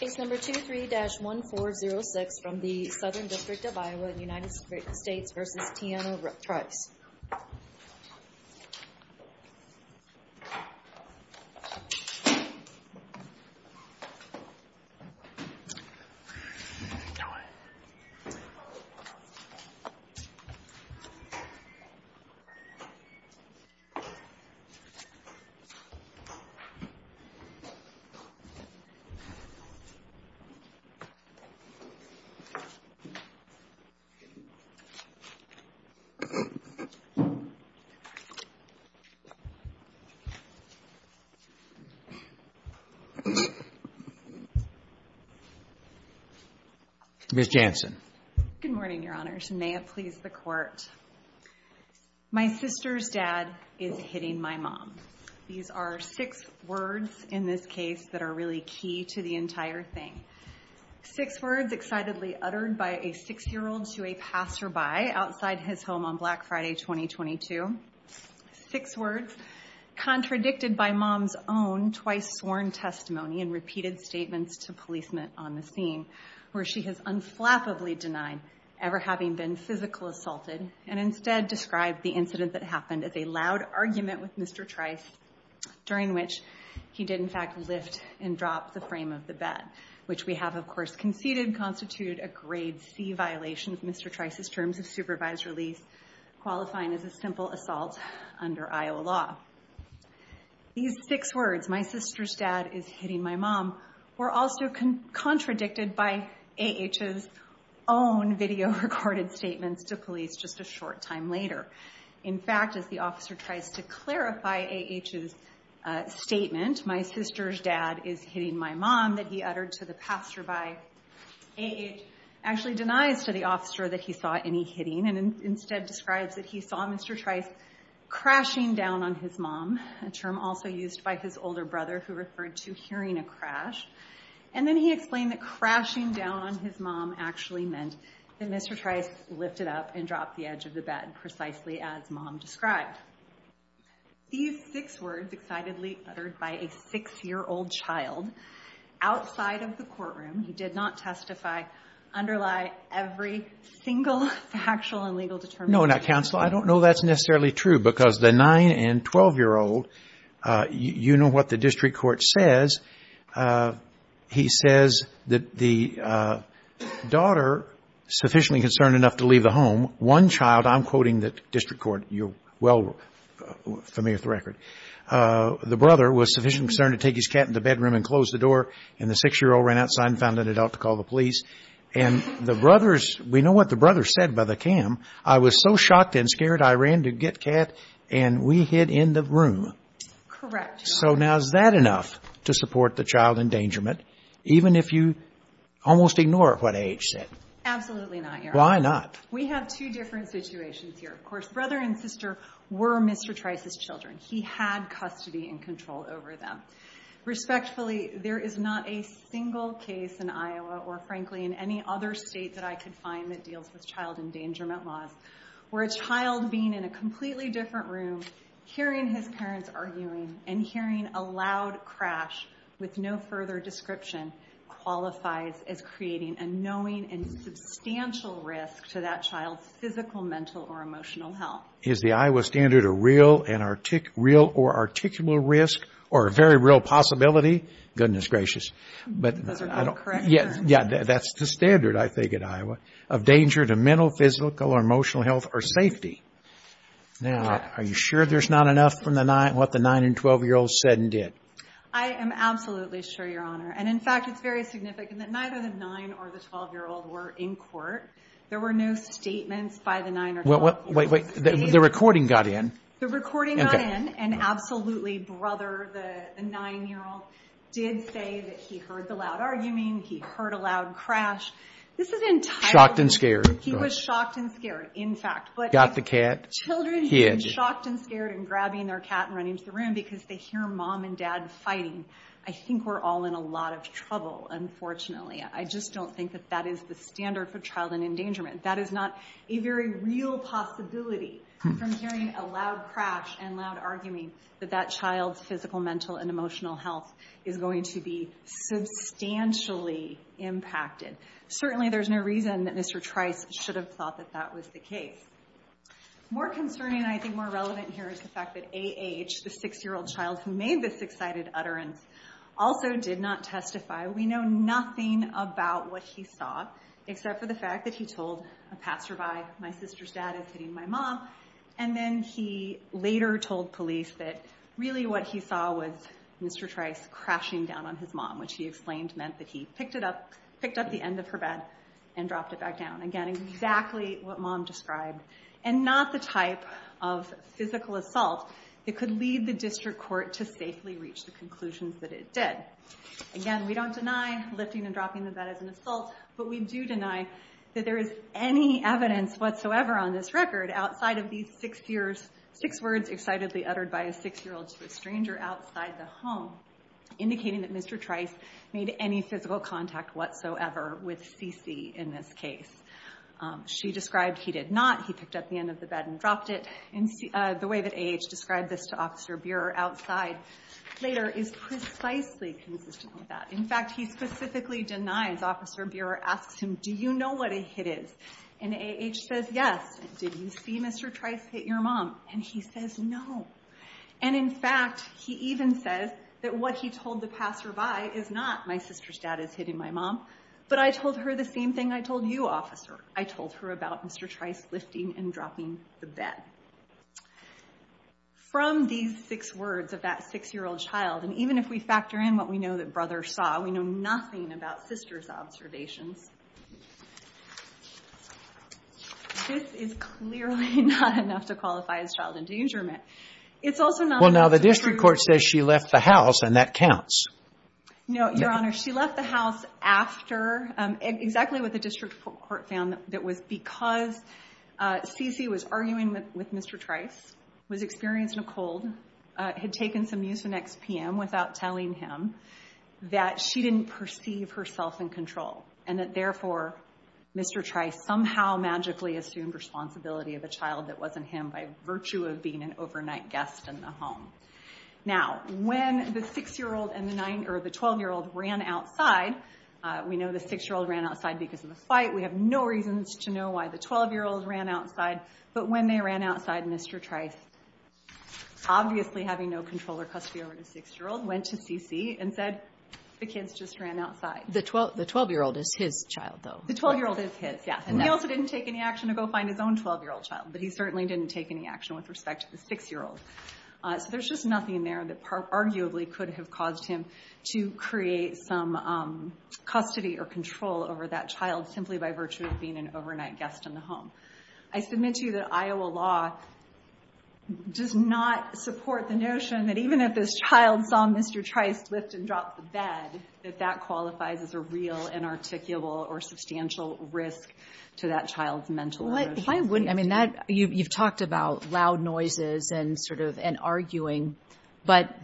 Case number 23-1406 from the Southern District of Iowa, United States v. Tiano Trice Good morning, Your Honors. May it please the Court, my sister's dad is hitting my mom. These are six words in this case that are really key to the entire thing. Six words excitedly uttered by a six-year-old to a passerby outside his home on Black Friday 2022. Six words contradicted by mom's own twice sworn testimony and repeated statements to policemen on the scene, where she has unflappably denied ever having been physically assaulted and instead described the incident that happened as a loud argument with Mr. Trice, during which he did in fact lift and drop the frame of the bed, which we have of course conceded constituted a grade C violation of Mr. Trice's terms of supervised release, qualifying as a simple assault under Iowa law. These six words, my sister's dad is hitting my mom, were also contradicted by A.H.'s own video recorded statements to police just a short time later. In fact, as the officer tries to clarify A.H.'s statement, my sister's dad is hitting my mom, that he uttered to the passerby, A.H. actually denies to the officer that he saw any hitting and instead describes that he saw Mr. Trice crashing down on his mom, a term also used by his older brother who referred to hearing a crash. And then he explained that crashing down on his mom actually meant that Mr. Trice lifted up and dropped the edge of the bed, precisely as mom described. These six words excitedly uttered by a six-year-old child outside of the courtroom, he did not testify, underlie every single factual and legal determination. No, now counsel, I don't know that's necessarily true, because the nine and 12-year-old, you know what the district court says, he says that the daughter, sufficiently concerned enough to leave the home, one child, I'm quoting the district court, you're well familiar with the record, the brother was sufficiently concerned to take his cat in the bedroom and close the door, and the six-year-old ran outside and found an adult to call the police, and the brothers, we know what the brothers said by the cam, I was so shocked and scared I ran to get Cat and we hid in the room. Correct. So now is that enough to support the child endangerment, even if you almost ignore what A.H. said? Absolutely not, Your Honor. Why not? We have two different situations here. Of course, brother and sister were Mr. Trice's children. He had custody and control over them. Respectfully, there is not a single case in Iowa or, frankly, in any other state that I could find that deals with child endangerment laws where a child being in a completely different room, hearing his parents arguing, and hearing a loud crash with no further description qualifies as creating a knowing and substantial risk to that child's physical, mental, or emotional health. Is the Iowa standard a real or articulable risk or a very real possibility? Goodness gracious. Those are correct, Your Honor. Yeah, that's the standard, I think, at Iowa of danger to mental, physical, or emotional health or safety. Now, are you sure there's not enough from what the 9- and 12-year-olds said and did? I am absolutely sure, Your Honor. And, in fact, it's very significant that neither the 9- or the 12-year-old were in court. There were no statements by the 9- or 12-year-old. Wait, wait, wait. The recording got in. The recording got in, and absolutely, brother, the 9-year-old, did say that he heard the loud arguing, he heard a loud crash. This is entirely— Shocked and scared. He was shocked and scared, in fact. Got the cat. Children being shocked and scared and grabbing their cat and running to the room because they hear mom and dad fighting. I think we're all in a lot of trouble, unfortunately. I just don't think that that is the standard for child endangerment. That is not a very real possibility from hearing a loud crash and loud arguing that that child's physical, mental, and emotional health is going to be substantially impacted. Certainly there's no reason that Mr. Trice should have thought that that was the case. More concerning, I think more relevant here, is the fact that A.H., the 6-year-old child who made this excited utterance, also did not testify. We know nothing about what he saw, except for the fact that he told a passerby, my sister's dad is hitting my mom. And then he later told police that really what he saw was Mr. Trice crashing down on his mom, which he explained meant that he picked up the end of her bed and dropped it back down. Again, exactly what mom described. And not the type of physical assault that could lead the district court to safely reach the conclusions that it did. Again, we don't deny lifting and dropping the bed is an assault, but we do deny that there is any evidence whatsoever on this record outside of these six words excitedly uttered by a 6-year-old to a stranger outside the home, indicating that Mr. Trice made any physical contact whatsoever with CeCe in this case. She described he did not. He picked up the end of the bed and dropped it. And the way that A.H. described this to Officer Bierer outside later is precisely consistent with that. In fact, he specifically denies Officer Bierer asks him, do you know what a hit is? And A.H. says, yes. Did you see Mr. Trice hit your mom? And he says, no. And in fact, he even says that what he told the passerby is not my sister's dad is hitting my mom, but I told her the same thing I told you, officer. I told her about Mr. Trice lifting and dropping the bed. From these six words of that 6-year-old child, and even if we factor in what we know that brother saw, we know nothing about sister's observations. This is clearly not enough to qualify as child endangerment. It's also not enough to prove that she left the house, and that counts. No, Your Honor. She left the house after, exactly what the district court found that was because C.C. was arguing with Mr. Trice, was experiencing a cold, had taken some mucinex PM without telling him, that she didn't perceive herself in control, and that therefore Mr. Trice somehow magically assumed responsibility of a child that wasn't him by virtue of being an overnight guest in the home. Now, when the 6-year-old and the 12-year-old ran outside, we know the 6-year-old ran outside because of the fight. We have no reasons to know why the 12-year-old ran outside, but when they ran outside, Mr. Trice, obviously having no control or custody over the 6-year-old, went to C.C. and said, the kids just ran outside. The 12-year-old is his child, though. The 12-year-old is his, yes, and he also didn't take any action to go find his own 12-year-old child, but he certainly didn't take any action with respect to the 6-year-old. So there's just nothing there that arguably could have caused him to create some custody or control over that child simply by virtue of being an overnight guest in the home. I submit to you that Iowa law does not support the notion that even if this child saw Mr. Trice lift and drop the bed, that that qualifies as a real and articulable or substantial risk to that child's mental health. You've talked about loud noises and arguing, but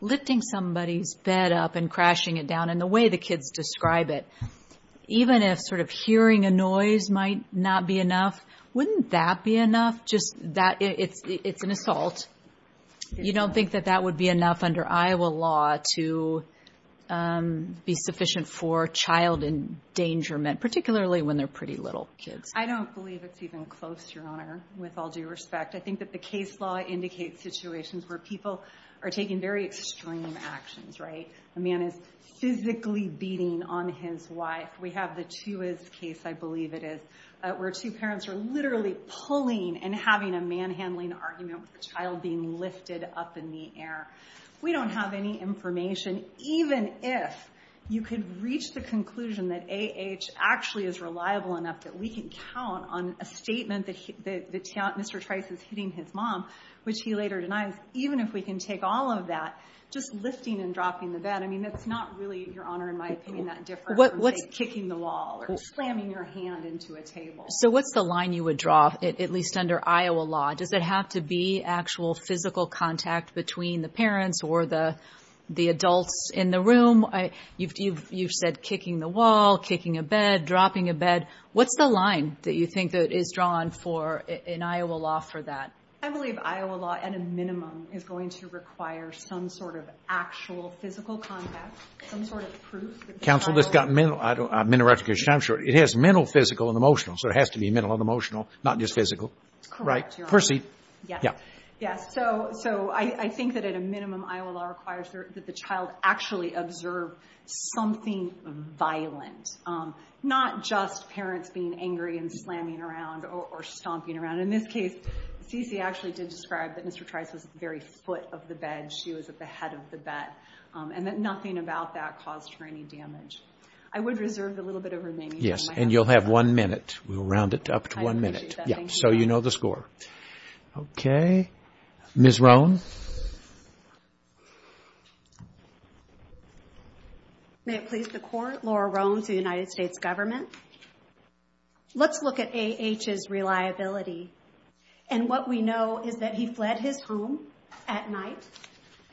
lifting somebody's bed up and crashing it down and the way the kids describe it, even if sort of hearing a noise might not be enough, wouldn't that be enough? It's an assault. You don't think that that would be enough under Iowa law to be sufficient for child endangerment, particularly when they're pretty little kids? I don't believe it's even close, Your Honor, with all due respect. I think that the case law indicates situations where people are taking very extreme actions, right? A man is physically beating on his wife. We have the Tuiz case, I believe it is, where two parents are literally pulling and having a manhandling argument with the child being lifted up in the air. We don't have any information, even if you could reach the conclusion that AH actually is reliable enough that we can count on a statement that Mr. Trice is hitting his mom, which he later denies, even if we can take all of that, just lifting and dropping the bed, I mean that's not really, Your Honor, in my opinion, that different from, say, kicking the wall or slamming your hand into a table. So what's the line you would draw, at least under Iowa law? Does it have to be actual physical contact between the parents or the adults in the room? You've said kicking the wall, kicking a bed, dropping a bed. What's the line that you think that is drawn in Iowa law for that? I believe Iowa law, at a minimum, is going to require some sort of actual physical contact, some sort of proof that the child— Counsel, this has gotten a minute of reticulation, I'm sure. It has mental, physical, and emotional, so it has to be mental and emotional, not just physical. Correct, Your Honor. Perceive. Yes. So I think that at a minimum, Iowa law requires that the child actually observe something violent, not just parents being angry and slamming around or stomping around. In this case, CeCe actually did describe that Mr. Trice was at the very foot of the bed, she was at the head of the bed, and that nothing about that caused her any damage. I would reserve a little bit of remaining time. Yes, and you'll have one minute. We'll round it up to one minute. I appreciate that. So you know the score. Okay. Ms. Roan. May it please the Court, Laura Roan for the United States Government. Let's look at A.H.'s reliability. And what we know is that he fled his home at night.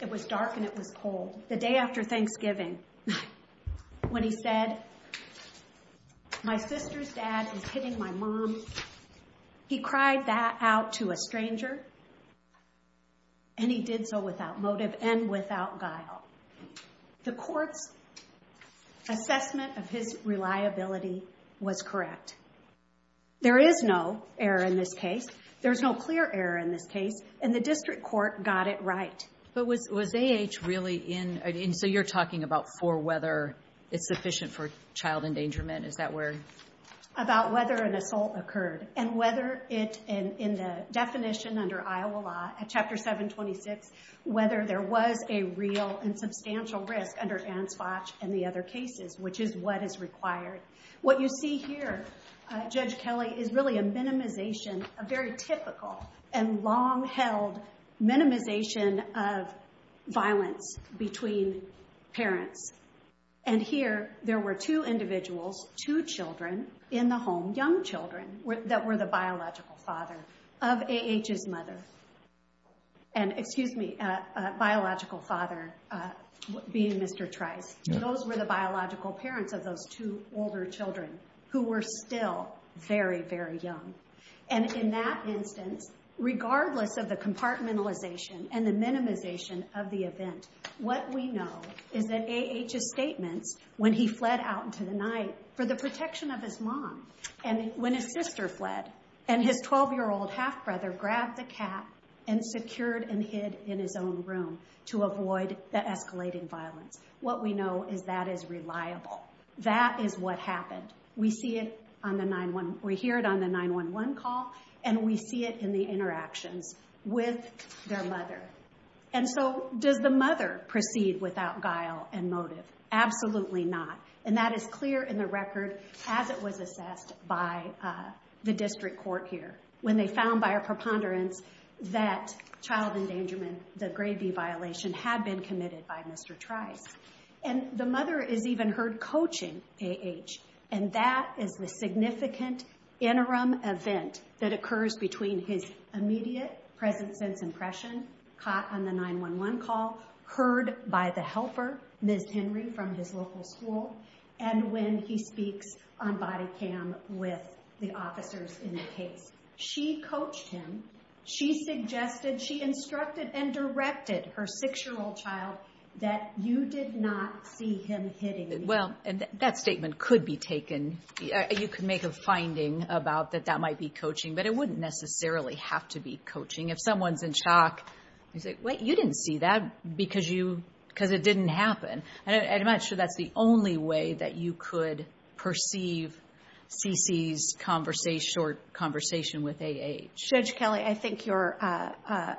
It was dark and it was cold. The day after Thanksgiving, when he said, my sister's dad is hitting my mom, he cried that out to a stranger. And he did so without motive and without guile. The Court's assessment of his reliability was correct. There is no error in this case. There's no clear error in this case, and the district court got it right. But was A.H. really in, and so you're talking about for whether it's sufficient for child endangerment, is that where? About whether an assault occurred, and whether it, in the definition under Iowa law at Chapter 726, whether there was a real and substantial risk under Ansvach and the other cases, which is what is required. What you see here, Judge Kelly, is really a minimization, a very typical and long-held minimization of violence between parents. And here there were two individuals, two children in the home, young children that were the biological father of A.H.'s mother. And, excuse me, biological father being Mr. Trice. Those were the biological parents of those two older children who were still very, very young. And in that instance, regardless of the compartmentalization and the minimization of the event, what we know is that A.H.'s statements when he fled out into the night for the protection of his mom, and when his sister fled, and his 12-year-old half-brother grabbed the cat and secured and hid in his own room to avoid the escalating violence. What we know is that is reliable. That is what happened. We see it on the 911—we hear it on the 911 call, and we see it in the interactions with their mother. And so does the mother proceed without guile and motive? Absolutely not. And that is clear in the record as it was assessed by the district court here when they found by a preponderance that child endangerment, the grade B violation, had been committed by Mr. Trice. And the mother is even heard coaching A.H., and that is the significant interim event that occurs between his immediate, present-sense impression caught on the 911 call, heard by the helper, Ms. Henry, from his local school, and when he speaks on body cam with the officers in the case. She coached him. She suggested, she instructed and directed her 6-year-old child that you did not see him hitting me. Well, that statement could be taken. You could make a finding about that that might be coaching, but it wouldn't necessarily have to be coaching. If someone's in shock, you say, wait, you didn't see that because it didn't happen. I'm not sure that's the only way that you could perceive C.C.'s short conversation with A.H. Judge Kelly, I think your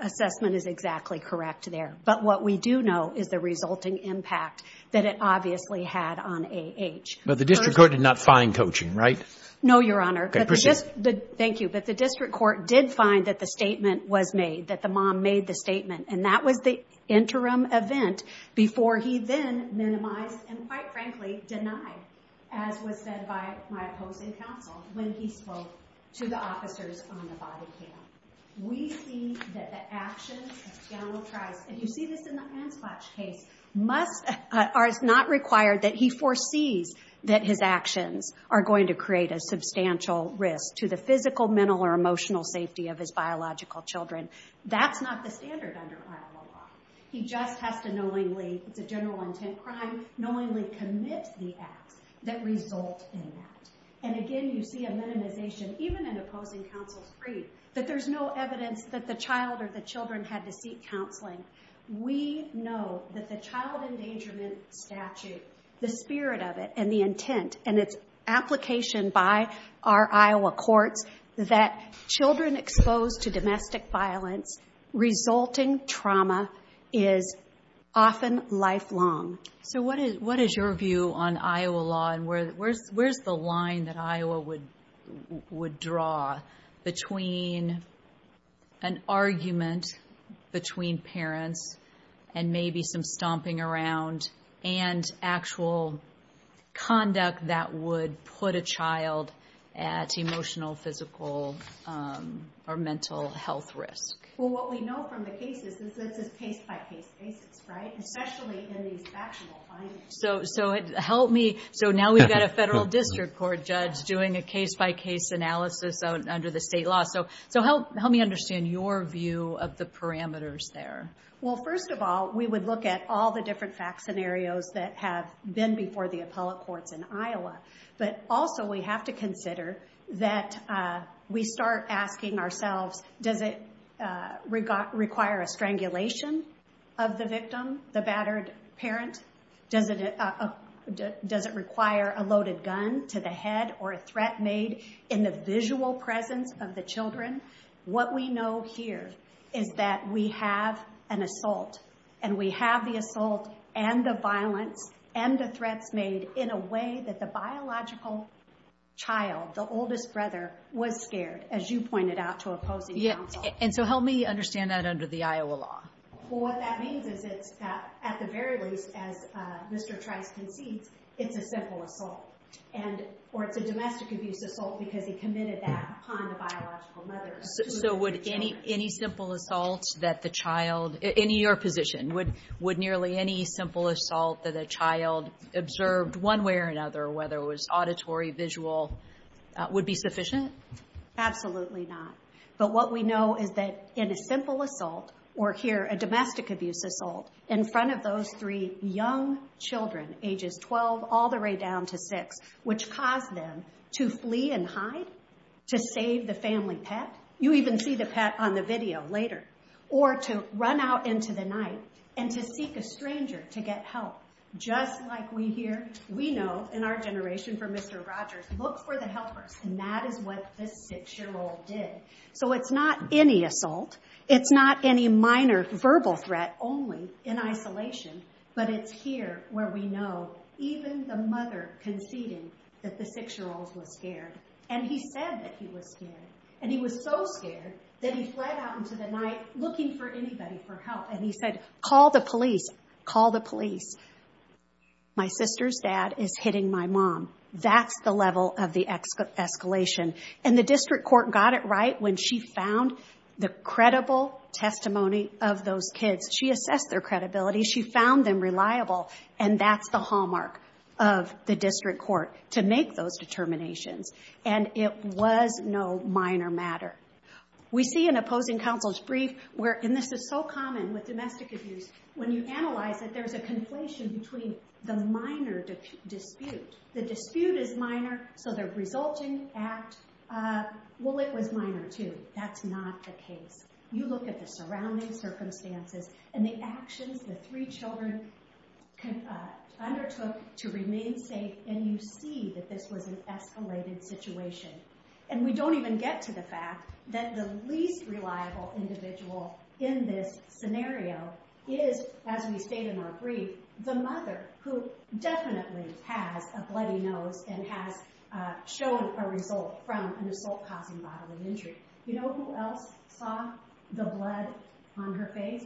assessment is exactly correct there. But what we do know is the resulting impact that it obviously had on A.H. But the district court did not find coaching, right? No, Your Honor. Okay, proceed. Thank you. But the district court did find that the statement was made, that the mom made the statement, and that was the interim event before he then minimized and, quite frankly, denied, as was said by my opposing counsel, when he spoke to the officers on the body cam. We see that the actions of General Price, and you see this in the hand splash case, are not required that he foresees that his actions are going to create a substantial risk to the physical, mental, or emotional safety of his biological children. That's not the standard under Iowa law. He just has to knowingly, it's a general intent crime, knowingly commit the acts that result in that. And, again, you see a minimization, even in opposing counsel's brief, that there's no evidence that the child or the children had to seek counseling. We know that the child endangerment statute, the spirit of it, and the intent, and its application by our Iowa courts that children exposed to domestic violence resulting trauma is often lifelong. So what is your view on Iowa law, and where's the line that Iowa would draw between an argument between parents, and maybe some stomping around, and actual conduct that would put a child at emotional, physical, or mental health risk? Well, what we know from the cases, this is case-by-case basis, right? Especially in these factual findings. So help me, so now we've got a federal district court judge doing a case-by-case analysis under the state law. So help me understand your view of the parameters there. Well, first of all, we would look at all the different fact scenarios that have been before the appellate courts in Iowa. But also we have to consider that we start asking ourselves, does it require a strangulation of the victim, the battered parent? Does it require a loaded gun to the head, or a threat made in the visual presence of the children? What we know here is that we have an assault, and we have the assault, and the violence, and the threats made in a way that the biological child, the oldest brother, was scared, as you pointed out to opposing counsel. And so help me understand that under the Iowa law. Well, what that means is it's at the very least, as Mr. Trice concedes, it's a simple assault. Or it's a domestic abuse assault because he committed that upon the biological mother. So would any simple assault that the child, in your position, would nearly any simple assault that a child observed one way or another, whether it was auditory, visual, would be sufficient? Absolutely not. But what we know is that in a simple assault, or here, a domestic abuse assault, in front of those three young children, ages 12 all the way down to six, which caused them to flee and hide, to save the family pet. You even see the pet on the video later. Or to run out into the night and to seek a stranger to get help. Just like we here, we know, in our generation, for Mr. Rogers, look for the helpers. And that is what this six-year-old did. So it's not any assault. It's not any minor verbal threat, only in isolation. But it's here where we know, even the mother conceding, that the six-year-old was scared. And he said that he was scared. And he was so scared that he fled out into the night looking for anybody for help. And he said, call the police. Call the police. My sister's dad is hitting my mom. That's the level of the escalation. And the district court got it right when she found the credible testimony of those kids. She assessed their credibility. She found them reliable. And that's the hallmark of the district court, to make those determinations. And it was no minor matter. We see in opposing counsel's brief where, and this is so common with domestic abuse, when you analyze it, there's a conflation between the minor dispute. The dispute is minor, so the resulting act, well, it was minor, too. That's not the case. You look at the surrounding circumstances and the actions the three children undertook to remain safe, and you see that this was an escalated situation. And we don't even get to the fact that the least reliable individual in this scenario is, as we state in our brief, the mother who definitely has a bloody nose and has shown a result from an assault-causing bodily injury. You know who else saw the blood on her face?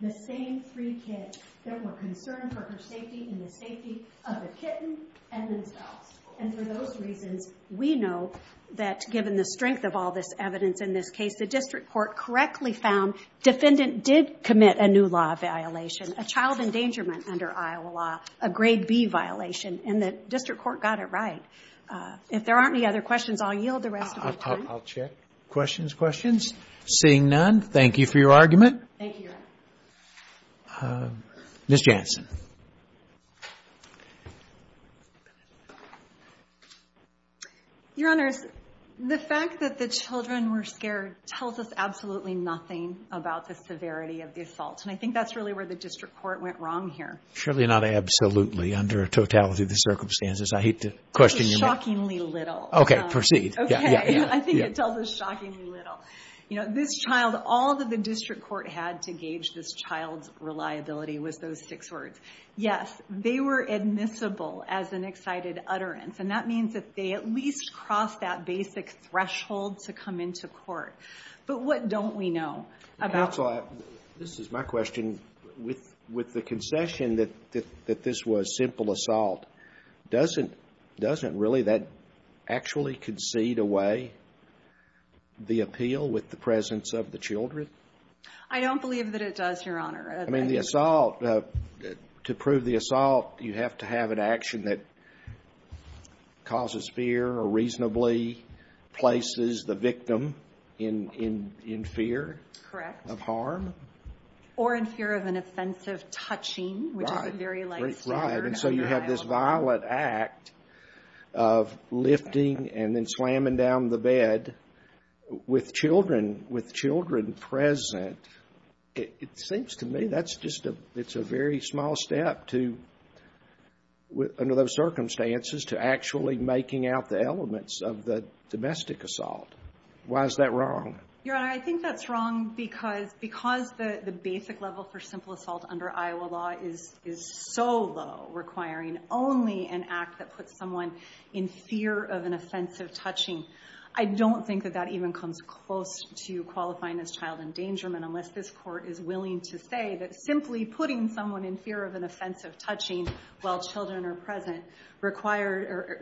The same three kids that were concerned for her safety and the safety of the kitten and themselves. And for those reasons, we know that, given the strength of all this evidence in this case, the district court correctly found defendant did commit a new law violation, a child endangerment under Iowa law, a grade B violation. And the district court got it right. If there aren't any other questions, I'll yield the rest of my time. I'll check. Questions, questions? Seeing none, thank you for your argument. Thank you. Ms. Jansen. Your Honors, the fact that the children were scared tells us absolutely nothing about the severity of the assault. And I think that's really where the district court went wrong here. Surely not absolutely under a totality of the circumstances. I hate to question your mind. Shockingly little. Okay, proceed. Okay. I think it tells us shockingly little. You know, this child, all that the district court had to gauge this child's reliability was those six words. Yes, they were admissible as an excited utterance. And that means that they at least crossed that basic threshold to come into court. But what don't we know? This is my question. With the concession that this was simple assault, doesn't really that actually concede away the appeal with the presence of the children? I don't believe that it does, Your Honor. I mean, the assault, to prove the assault, you have to have an action that causes fear or reasonably places the victim in fear of harm? Or in fear of an offensive touching. Right. And so you have this violent act of lifting and then slamming down the bed with children, with children present. It seems to me that's just a very small step to, under those circumstances, to actually making out the elements of the domestic assault. Why is that wrong? Your Honor, I think that's wrong because the basic level for simple assault under Iowa law is so low, requiring only an act that puts someone in fear of an offensive touching. I don't think that that even comes close to qualifying as child endangerment unless this court is willing to say that simply putting someone in fear of an offensive touching while children are present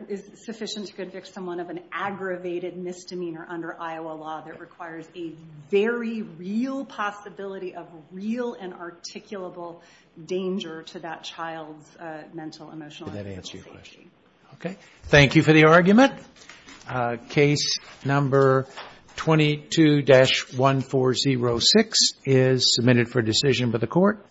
is sufficient to convict someone of an aggravated misdemeanor under Iowa law that requires a very real possibility of real and articulable danger to that child's mental, emotional, and physical safety. Did that answer your question? Okay. Thank you for the argument. Case number 22-1406 is submitted for decision by the Court.